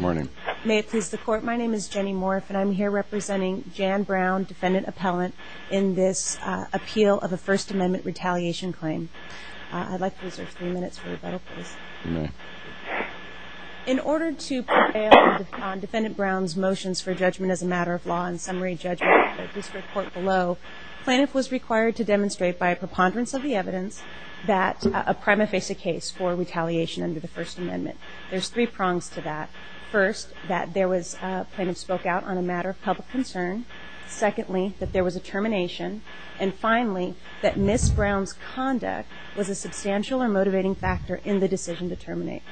Morning. May it please the Court, my name is Jenny Morf and I'm here representing Jan Brown, Defendant Appellant, in this appeal of a First Amendment retaliation claim. I'd like to reserve three minutes for rebuttal, please. In order to prevail on Defendant Brown's motions for judgment as a matter of law and summary judgment at the District Court below, Plaintiff was required to demonstrate by a preponderance of the evidence that a crime may face a case for retaliation under the First Amendment. There's three prongs to that. First, that Plaintiff spoke out on a matter of public concern. Secondly, that there was a termination. And finally, that Ms. Brown's conduct was a substantial or motivating factor in the decision to terminate.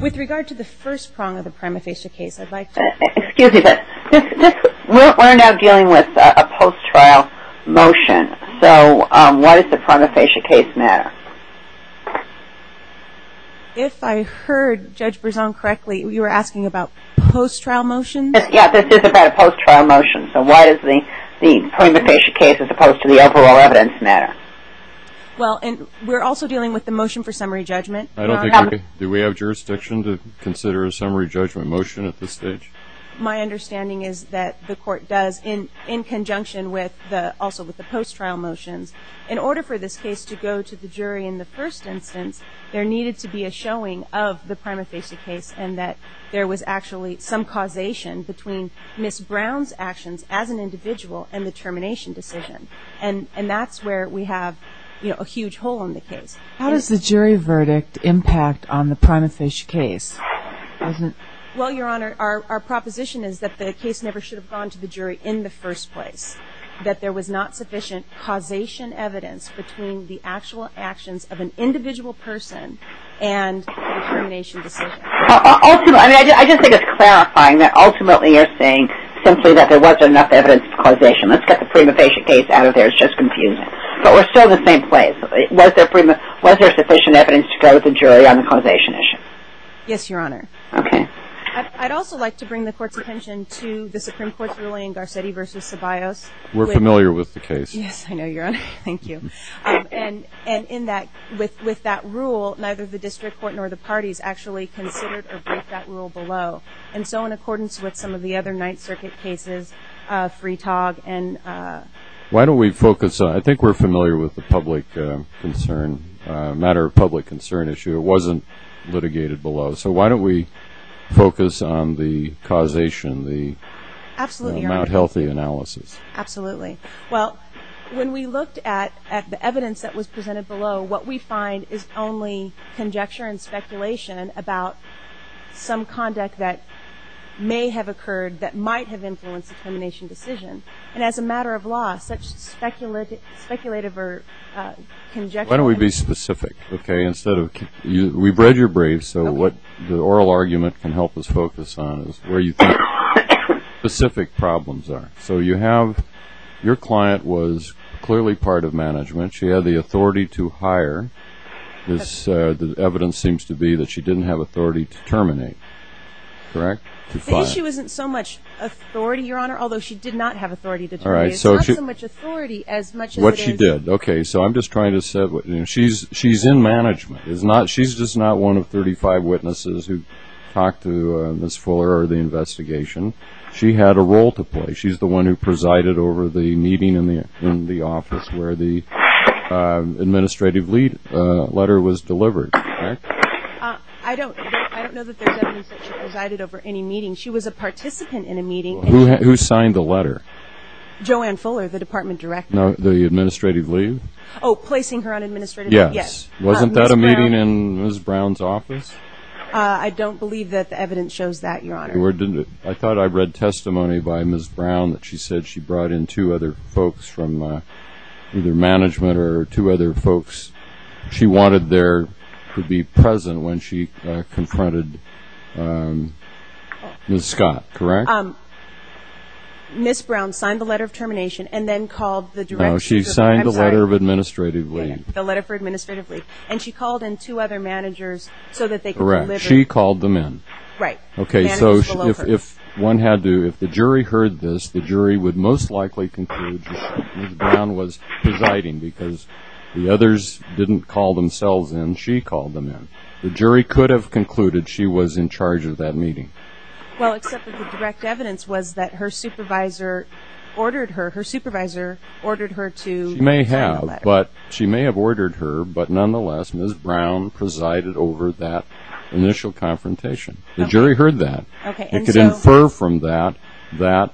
With regard to the first prong of the prima facie case, I'd like to- Excuse me, but we're now dealing with a post-trial motion, so why does the prima facie case matter? If I heard Judge Berzon correctly, you were asking about post-trial motions? Yes, this is about a post-trial motion, so why does the prima facie case as opposed to the overall evidence matter? Well, and we're also dealing with the motion for summary judgment. I don't think we- do we have jurisdiction to consider a summary judgment motion at this stage? My understanding is that the Court does in conjunction with the- also with the post-trial motions, in order for this case to go to the jury in the first instance, there needed to be a showing of the prima facie case and that there was actually some causation between Ms. Brown's actions as an individual and the termination decision. And that's where we have, you know, a huge hole in the case. How does the jury verdict impact on the prima facie case? Well, Your Honor, our proposition is that the case never should have gone to the jury in the between the actual actions of an individual person and the termination decision. Ultimately- I mean, I just think it's clarifying that ultimately you're saying simply that there wasn't enough evidence of causation. Let's get the prima facie case out of there. It's just confusing. But we're still in the same place. Was there prima- was there sufficient evidence to go to the jury on the causation issue? Yes, Your Honor. Okay. I'd also like to bring the Court's attention to the Supreme Court's ruling, Garcetti v. Ceballos. We're familiar with the case. Yes, I know, Your Honor. Thank you. And in that- with that rule, neither the District Court nor the parties actually considered or break that rule below. And so in accordance with some of the other Ninth Circuit cases, Freetog and- Why don't we focus on- I think we're familiar with the public concern- matter of public concern issue. It wasn't litigated below. So why don't we focus on the causation, the- Absolutely, Your Honor. The Mt. Healthy analysis. Absolutely. Well, when we looked at the evidence that was presented below, what we find is only conjecture and speculation about some conduct that may have occurred that might have influenced the termination decision. And as a matter of law, such speculative or conjecture- Why don't we be specific, okay? Instead of- we've read your briefs, so what the oral problems are. So you have- your client was clearly part of management. She had the authority to hire. This- the evidence seems to be that she didn't have authority to terminate. Correct? The issue isn't so much authority, Your Honor, although she did not have authority to terminate. It's not so much authority as much as it is- What she did. Okay, so I'm just trying to say- she's in management. It's not- she's just not one of 35 witnesses who talked to Ms. Fuller or the investigation. She had a role to play. She's the one who presided over the meeting in the office where the administrative lead- letter was delivered. I don't- I don't know that there's evidence that she presided over any meeting. She was a participant in a meeting. Who signed the letter? Joanne Fuller, the department director. No, the administrative lead. Oh, placing her on administrative- Yes. Wasn't that a meeting in Ms. Brown's office? I don't believe that the evidence shows that, Your Honor. I thought I read testimony by Ms. Brown that she said she brought in two other folks from either management or two other folks. She wanted there to be present when she confronted Ms. Scott, correct? Ms. Brown signed the letter of termination and then called the director- No, she signed the letter of administrative lead. The letter for administrative lead. And she called in two other managers so that they could- Correct. She called them in. Right. Okay, so if one had to- if the jury heard this, the jury would most likely conclude Ms. Brown was presiding because the others didn't call themselves in. She called them in. The jury could have concluded she was in charge of that meeting. Well, except that the direct evidence was that her supervisor ordered her- her supervisor ordered her to sign the letter. She may have, but she may have ordered her, but nonetheless, Ms. Brown presided over that initial confrontation. The jury heard that. Okay, and so- It could infer from that that,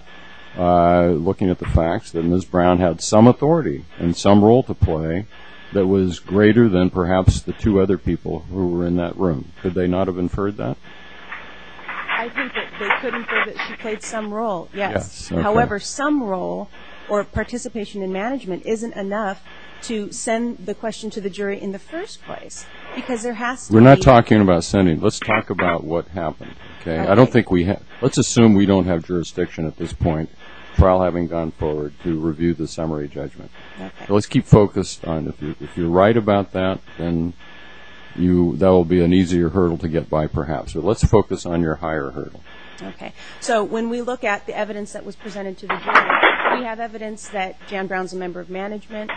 looking at the facts, that Ms. Brown had some authority and some role to play that was greater than perhaps the two other people who were in that room. Could they not have inferred that? I think that they could infer that she played some role, yes. Yes, okay. However, some role or participation in management isn't enough to send the question to the jury in the first place because there has to be- We're not talking about sending. Let's talk about what happened, okay? I don't think we have- let's assume we don't have jurisdiction at this point, trial having gone forward to review the summary judgment. Okay. Let's keep focused on- if you're right about that, then you- that will be an easier hurdle to get by perhaps, but let's focus on your higher hurdle. Okay, so when we look at the evidence that was presented to the jury, we have evidence that Jan Brown's a member of management.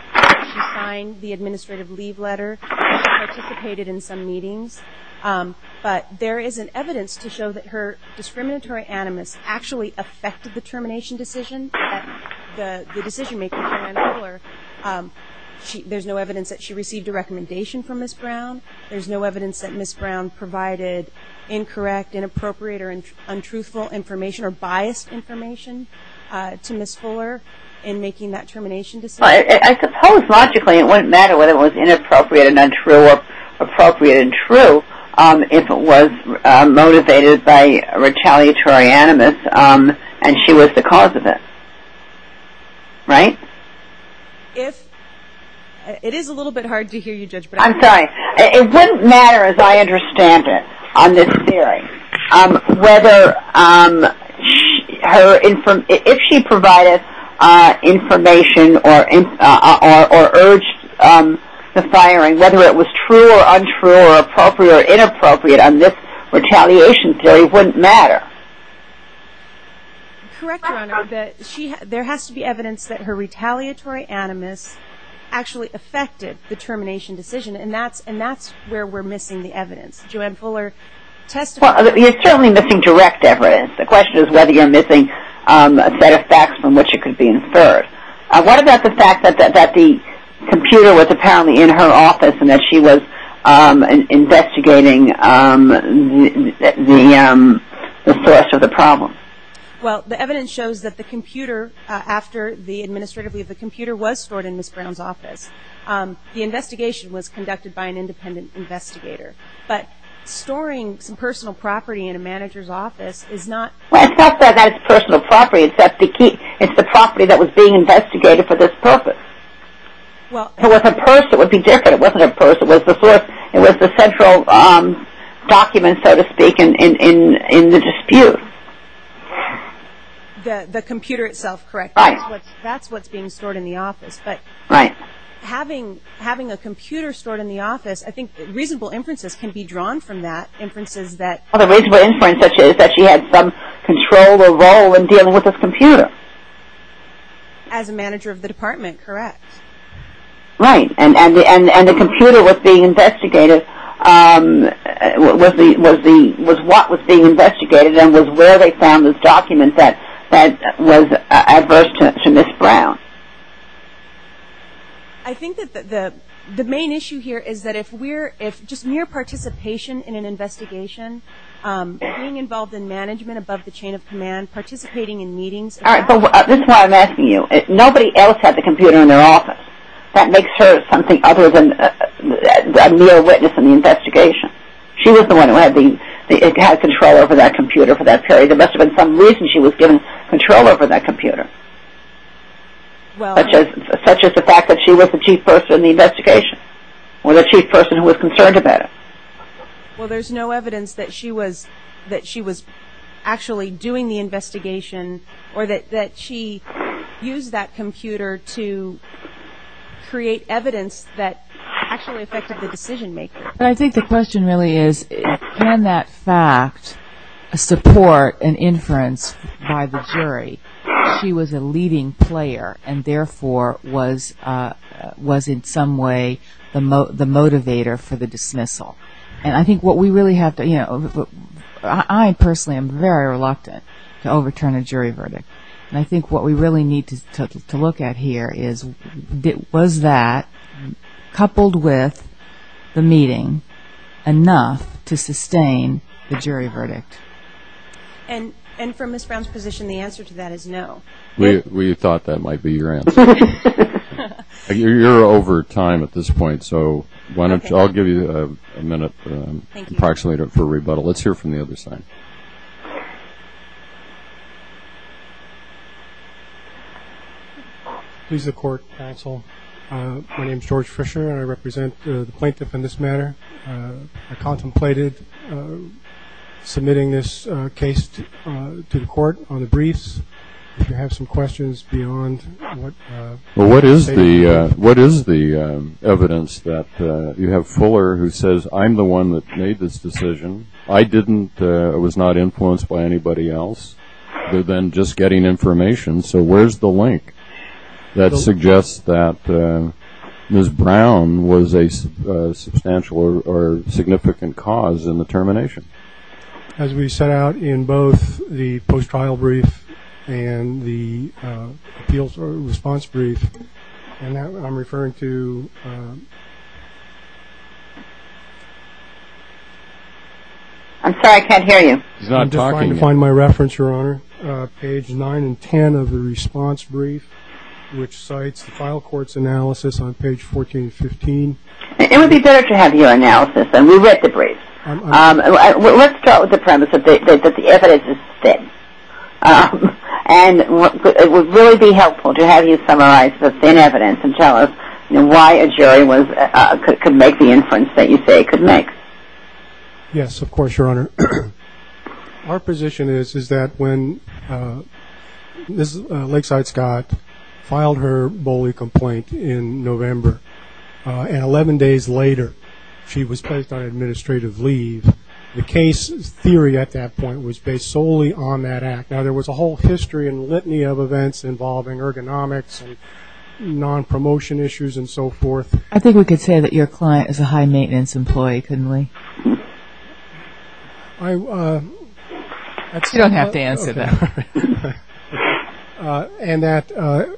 She signed the administrative leave letter. She participated in some meetings, but there isn't evidence to show that her discriminatory animus actually affected the termination decision that the decision-maker, Jan Koehler. There's no evidence that she received a recommendation from Ms. Brown. There's no evidence that Ms. Brown provided incorrect, inappropriate, or untruthful information or biased information to Ms. Fuller in making that termination decision. I suppose logically it wouldn't matter whether it was inappropriate and untrue or appropriate and true if it was motivated by a retaliatory animus and she was the cause of it. Right? If- it is a little bit hard to hear you, Judge, but- I'm sorry. It wouldn't matter as I understand it on this hearing whether her- if she provided information or urged the firing, whether it was true or untrue or appropriate or inappropriate on this retaliation theory wouldn't matter. Correct, Your Honor. There has to be evidence that her retaliatory animus actually affected the termination decision and that's where we're missing the evidence. Joanne Fuller testified- Well, you're certainly missing direct evidence. The question is whether you're missing a set of facts from which it could be inferred. What about the fact that the computer was apparently in her office and that she was investigating the source of the problem? Well, the evidence shows that the computer, after the administrative leave, the computer was stored in Ms. Brown's office. The investigation was conducted by an independent investigator, but storing some personal property in a manager's office is not- Well, it's not that it's personal property. It's the key. It's the property that was being investigated for this purpose. Well- If it was a purse, it would be different. It wasn't a purse. It was the source. It was the central document, so to speak, in the dispute. The computer itself, correct? Right. That's what's being stored in the office, but- Right. Having a computer stored in the office, I think reasonable inferences can be drawn from that, inferences that- Well, the reasonable inference is that she had some control or role in dealing with this computer. As a manager of the department, correct. Right, and the computer was being investigated, was what was being investigated and was where they found this document that was adverse to Ms. Brown. I think that the main issue here is that if we're, if just mere participation in an investigation, being involved in management above the chain of command, participating in meetings- All right, but this is why I'm asking you. Nobody else had the computer in their office. That makes her something other than a mere witness in the investigation. She was the one who had control over that computer for that period. There must have been some reason she was given control over that computer, such as the fact that she was the chief person in the investigation, or the chief person who was concerned about it. Well, there's no evidence that she was actually doing the investigation, or that she used that computer to create evidence that actually affected the decision maker. But I think the question really is, can that fact support an inference by the jury that she was a leading player, and therefore was in some way the motivator for the dismissal? I personally am very reluctant to overturn a jury verdict, and I think what we really need to look at here is, was that, coupled with the meeting, enough to sustain the jury verdict? And from Ms. Brown's position, the answer to that is no. We thought that might be your answer. You're over time at this point, so why don't I'll give you a minute, approximate it for rebuttal. Let's hear from the other side. Please. The court counsel, my name is George Fisher, and I represent the plaintiff in this matter. I contemplated submitting this case to the court on the briefs. If you have some questions beyond what... What is the evidence that you have Fuller who says, I'm the one that made this decision. I didn't, I was not influenced by anybody else, other than just getting information. So where's the link that suggests that Ms. Brown was a substantial or significant cause in the termination? As we set out in both the post-trial brief and the appeals response brief, and I'm referring to... I'm sorry, I can't hear you. He's not talking. I'm just trying to find my reference, Your Honor. Page nine and 10 of the response brief, which cites the final court's analysis on page 14 and 15. It would be better to have your analysis, and we read the brief. Let's start with the premise that the evidence is thin. And it would really be helpful to have you summarize the thin evidence and tell us why a jury could make the inference that you say it could make. Yes, of course, Your Honor. Our position is that when Lakeside Scott filed her bully complaint in November, and 11 days later, she was placed on administrative leave, the case theory at that point was based solely on that act. Now, there was a whole history and litany of events involving ergonomics and non-promotion issues and so forth. I think we could say that your client is a high-maintenance employee, couldn't we? You don't have to answer that. And that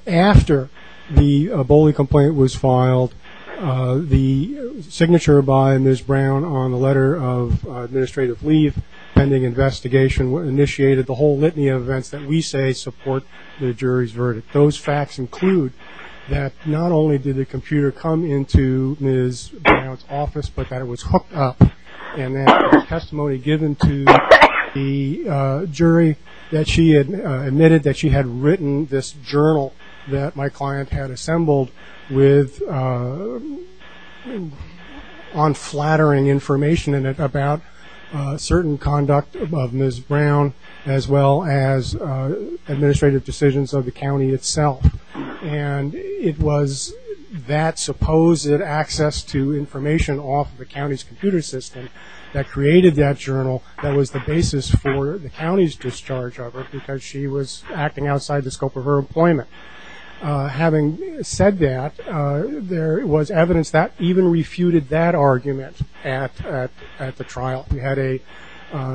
after the bully complaint was filed, the signature by Ms. Brown on the letter of administrative leave pending investigation initiated the whole litany of events that we say support the jury's verdict. Those facts include that not only did the computer come into Ms. Brown's office, but that it was hooked up and that the testimony given to the jury that she had admitted that she had written this journal that my client had assembled with unflattering information in it about certain conduct of Ms. Brown, as well as administrative decisions of the county itself. And it was that supposed access to information off the county's computer system that created that journal that was the basis for the county's discharge of her because she was acting outside the scope of her employment. Having said that, there was evidence that even refuted that argument at the trial. We had a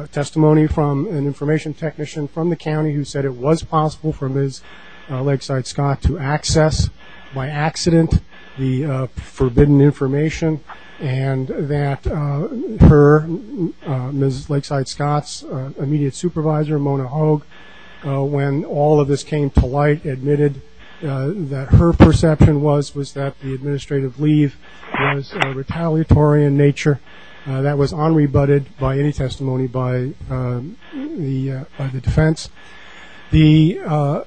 testimony from an information technician from the county who said it was possible for Ms. Lakeside Scott to access by accident the forbidden information and that her, Ms. Lakeside Scott's immediate supervisor, Mona Hoag, when all of this came to light, admitted that her perception was that the administrative leave was retaliatory in nature. That was unrebutted by any testimony by the defense. The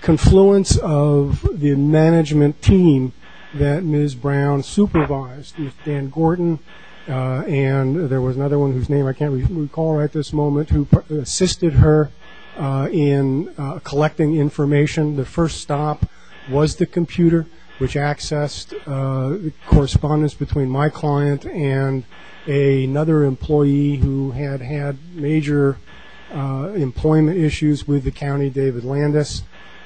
confluence of the management team that Ms. Brown supervised was Dan Gordon and there was another one whose name I can't recall at this moment who assisted her in collecting information. The first stop was the computer which accessed correspondence between my client and another employee who had had major employment issues with the county, David Landis.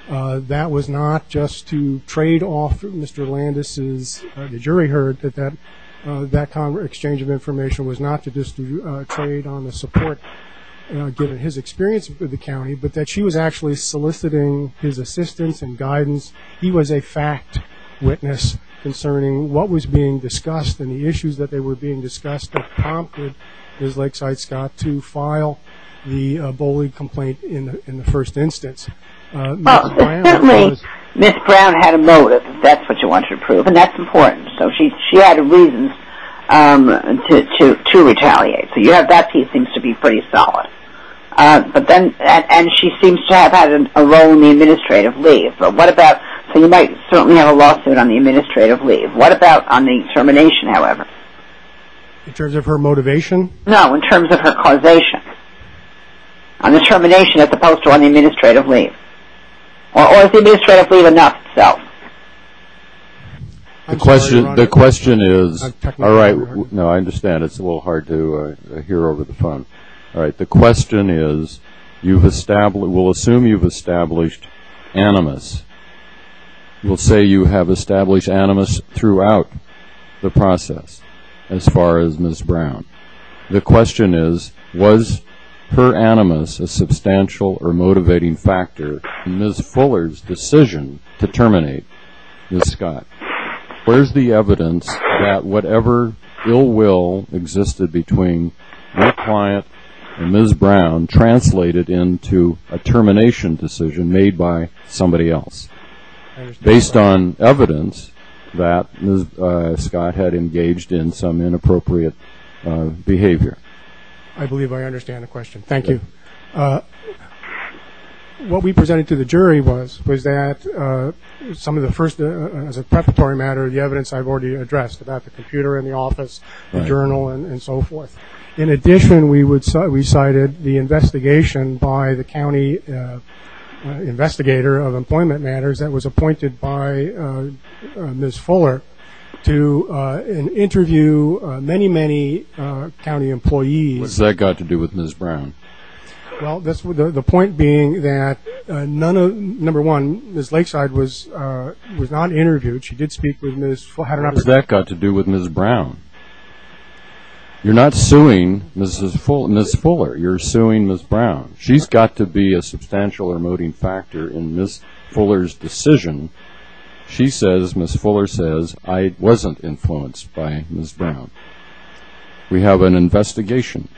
That was not just to trade off Mr. Landis's, the jury heard that that exchange of information was not to just trade on the support given his experience with the county, but that she was actually soliciting his assistance and guidance. He was a fact witness concerning what was being discussed and the issues that were being discussed prompted Ms. Lakeside Scott to file the bullying complaint in the first instance. Ms. Brown had a motive, that's what she wanted to prove, and that's important. So she had a reason to retaliate. So that piece seems to be pretty solid. But then, and she seems to have had a role in the administrative leave. So you might certainly have a lawsuit on the administrative leave. What about on the termination, however? In terms of her motivation? No, in terms of her causation. On the termination as opposed to on the administrative leave. Or is the administrative leave enough itself? The question is, all right, I understand it's a little hard to hear over the phone. All right, the question is, we'll assume you've established animus. We'll say you have established animus throughout the process as far as Ms. Brown. The question is, was her animus a substantial or motivating factor in Ms. Fuller's decision to terminate Ms. Scott? Where's the evidence that whatever ill will existed between her client and Ms. Brown translated into a termination decision made by somebody else, based on evidence that Ms. Scott had engaged in some inappropriate behavior? I believe I understand the question. Thank you. What we presented to the jury was that some of the first, as a preparatory matter, the evidence I've already addressed about the computer in the office, the journal, and so forth. In addition, we cited the investigation by the county investigator of employment matters that was appointed by Ms. Fuller to interview many, many county employees. What's that got to do with Ms. Brown? Well, the point being that, number one, Ms. Lakeside was not interviewed. She did speak with Ms. Fuller. You're not suing Ms. Fuller. You're suing Ms. Brown. She's got to be a substantial or motivating factor in Ms. Fuller's decision. She says, Ms. Fuller says, I wasn't influenced by Ms. Brown. We have an investigation.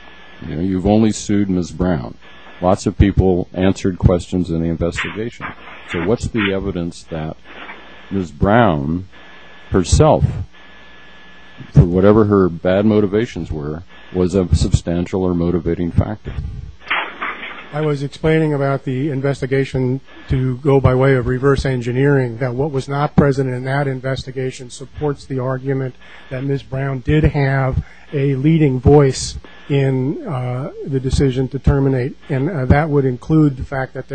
You've only sued Ms. Brown. Lots of people answered questions in the investigation. What's the evidence that Ms. Brown herself, for whatever her bad motivations were, was a substantial or motivating factor? I was explaining about the investigation to go by way of reverse engineering, that what was not present in that investigation supports the argument that Ms. Brown did have a leading voice in the decision to terminate. That would include the fact that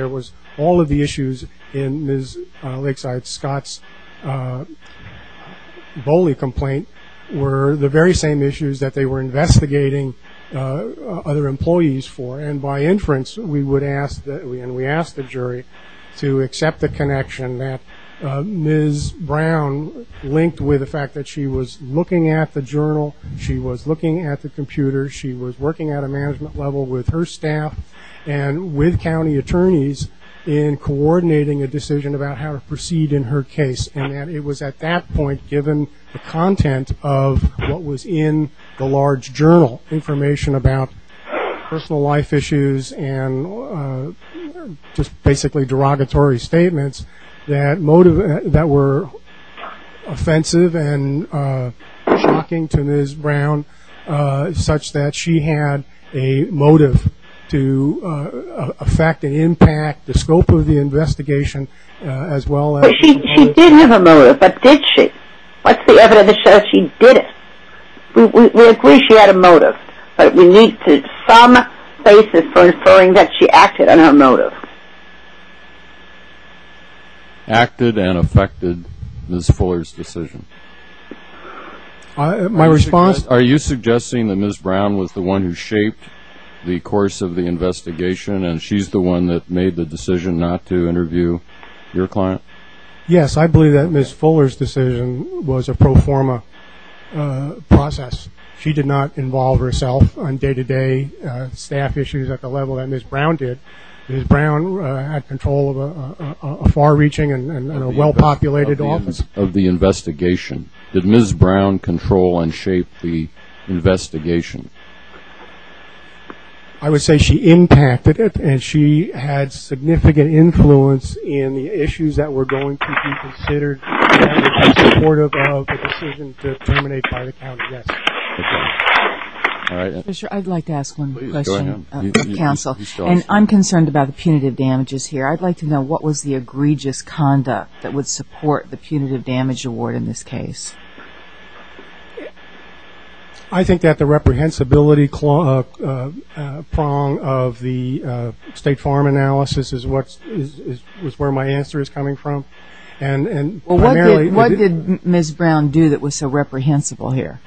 all of the issues in Ms. Lakeside Scott's BOLI complaint were the very same issues that they were investigating other employees for. By inference, we asked the jury to accept the connection that Ms. Brown linked with the fact that she was looking at the journal, she was looking at the computer, she was working at a management level with her staff and with county attorneys in coordinating a decision about how to proceed in her case. And that it was at that point, given the content of what was in the large journal, information about personal life issues and just basically derogatory statements that were offensive and shocking to Ms. Brown such that she had a motive to affect and impact the scope of the investigation as well as... But she did have a motive, but did she? What's the evidence that shows she didn't? We agree she had a motive, but we need some basis for inferring that she acted on her motive. Acted and affected Ms. Fuller's decision. My response... Are you suggesting that Ms. Brown was the one who shaped the course of the investigation and she's the one that made the decision not to interview your client? Yes, I believe that Ms. Fuller's decision was a pro forma process. She did not involve herself on day-to-day staff issues at the level that Ms. Brown did. Ms. Brown had control of a far-reaching and a well-populated office. Of the investigation. Did Ms. Brown control and shape the investigation? I would say she impacted it and she had significant influence in the issues that were going to be considered supportive of the decision to terminate by the county. I'd like to ask one question, counsel. I'm concerned about the punitive damages here. I'd like to know what was the egregious conduct that would support the punitive damage award in this case? I think that the reprehensibility prong of the state farm analysis was where my answer is coming from. What did Ms. Brown do that was so reprehensible here?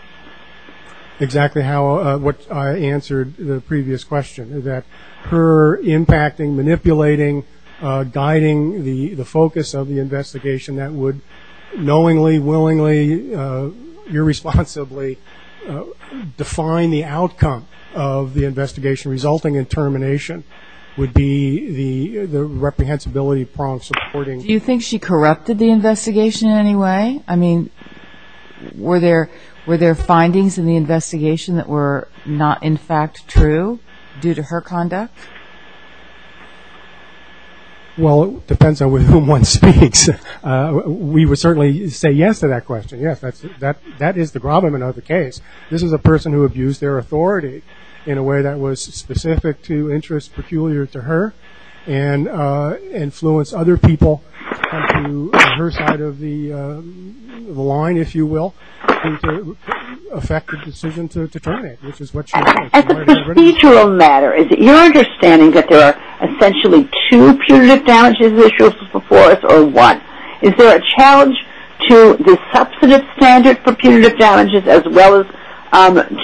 That's exactly what I answered in the previous question. That her impacting, manipulating, guiding the focus of the investigation that would knowingly, willingly, irresponsibly define the outcome of the investigation resulting in termination would be the reprehensibility prong supporting. Do you think she corrupted the investigation in any way? I mean, were there findings in the investigation that were not in fact true due to her conduct? Well, it depends on with whom one speaks. We would certainly say yes to that question. Yes, that is the gravamen of the case. This is a person who abused their authority in a way that was specific to interests peculiar to her and influenced other people to come to her side of the line, if you will, and to affect the decision to terminate, which is what she did. As a procedural matter, is it your understanding that there are essentially two punitive damages issues before us or one? Is there a challenge to the substantive standard for punitive damages as well as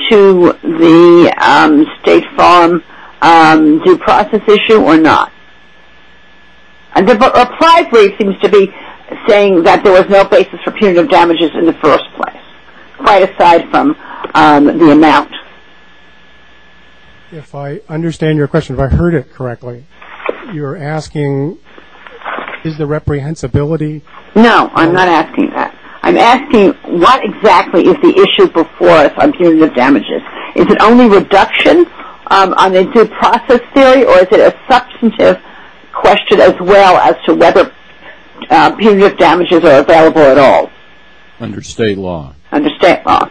to the State Farm due process issue or not? And the reply seems to be saying that there was no basis for punitive damages in the first place, quite aside from the amount. If I understand your question, if I heard it correctly, you're asking is the reprehensibility... No, I'm not asking that. I'm asking what exactly is the issue before us on punitive damages? Is it only reduction on the due process theory or is it a substantive question as well as to whether punitive damages are available at all? Under State law. Under State law.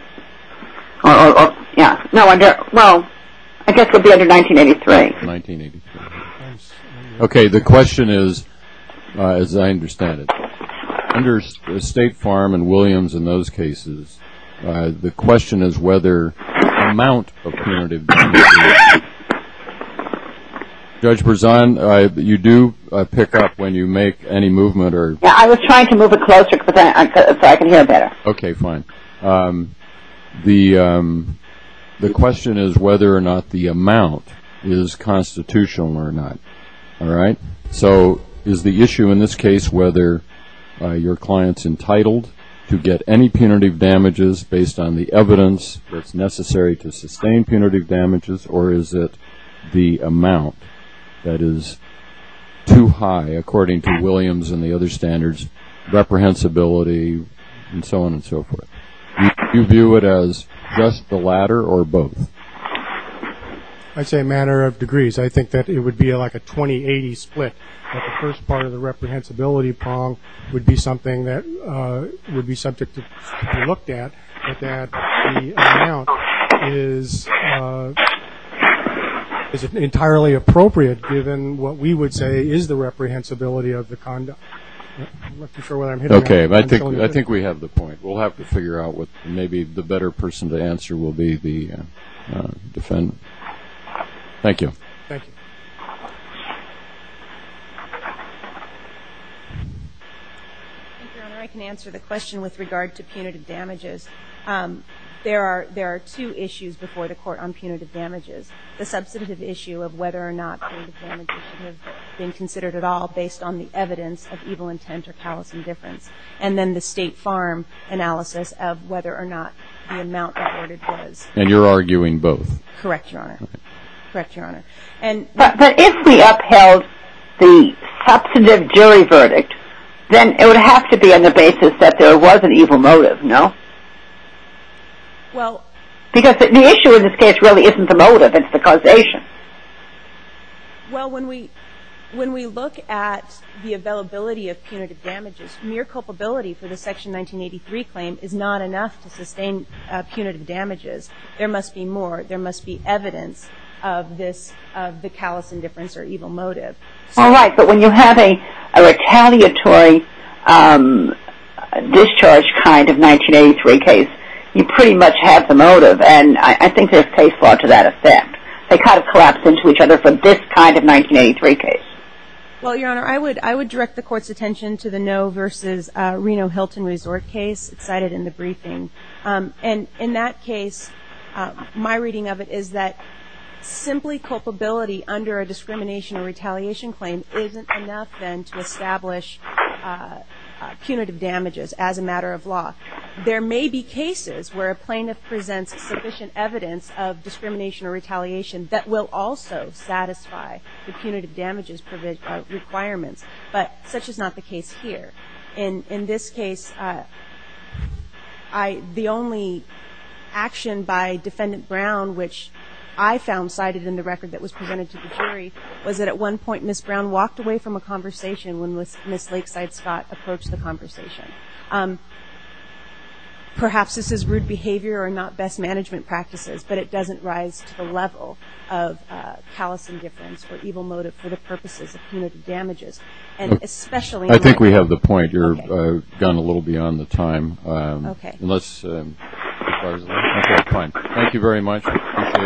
Yeah, no, well, I guess it would be under 1983. 1983. Okay, the question is, as I understand it, under State Farm and Williams in those cases, the question is whether the amount of punitive damages... Judge Berzon, you do pick up when you make any movement or... Yeah, I was trying to move it closer so I could hear better. Okay, fine. The question is whether or not the amount is constitutional or not, all right? So is the issue in this case whether your client's entitled to get any punitive damages based on the evidence that's necessary to sustain punitive damages or is it the amount that is too high, according to Williams and the other standards, reprehensibility and so on and so forth? Do you view it as just the latter or both? I'd say a matter of degrees. I think that it would be like a 20-80 split, that the first part of the reprehensibility prong would be something that would be subject to be looked at, but that the amount is entirely appropriate, given what we would say is the reprehensibility of the conduct. Okay, I think we have the point. We'll have to figure out what maybe the better person to answer will be the defendant. Thank you. Thank you. Thank you, Your Honor. I can answer the question with regard to punitive damages. There are two issues before the court on punitive damages. The substantive issue of whether or not punitive damages should have been considered at all, based on the evidence of evil intent or callous indifference, and then the State Farm analysis of whether or not the amount reported was. And you're arguing both? Correct, Your Honor. Correct, Your Honor. But if we upheld the substantive jury verdict, then it would have to be on the basis that there was an evil motive, no? Well... Because the issue in this case really isn't the motive, it's the causation. Well, when we look at the availability of punitive damages, mere culpability for the Section 1983 claim is not enough to sustain punitive damages. There must be more. Of this, of the callous indifference or evil motive. All right. But when you have a retaliatory discharge kind of 1983 case, you pretty much have the motive. And I think there's case law to that effect. They kind of collapse into each other for this kind of 1983 case. Well, Your Honor, I would direct the Court's attention And in that case, my reading of it is that simply culpability under a discrimination or retaliation claim isn't enough then to establish punitive damages as a matter of law. There may be cases where a plaintiff presents sufficient evidence of discrimination or retaliation that will also satisfy the punitive damages requirements. But such is not the case here. In this case, the only action by Defendant Brown, which I found cited in the record that was presented to the jury, was that at one point, Ms. Brown walked away from a conversation when Ms. Lakeside Scott approached the conversation. Perhaps this is rude behavior or not best management practices, but it doesn't rise to the level of callous indifference or evil motive for the purposes of punitive damages. And especially... I think we have the point. You've gone a little beyond the time. Thank you very much.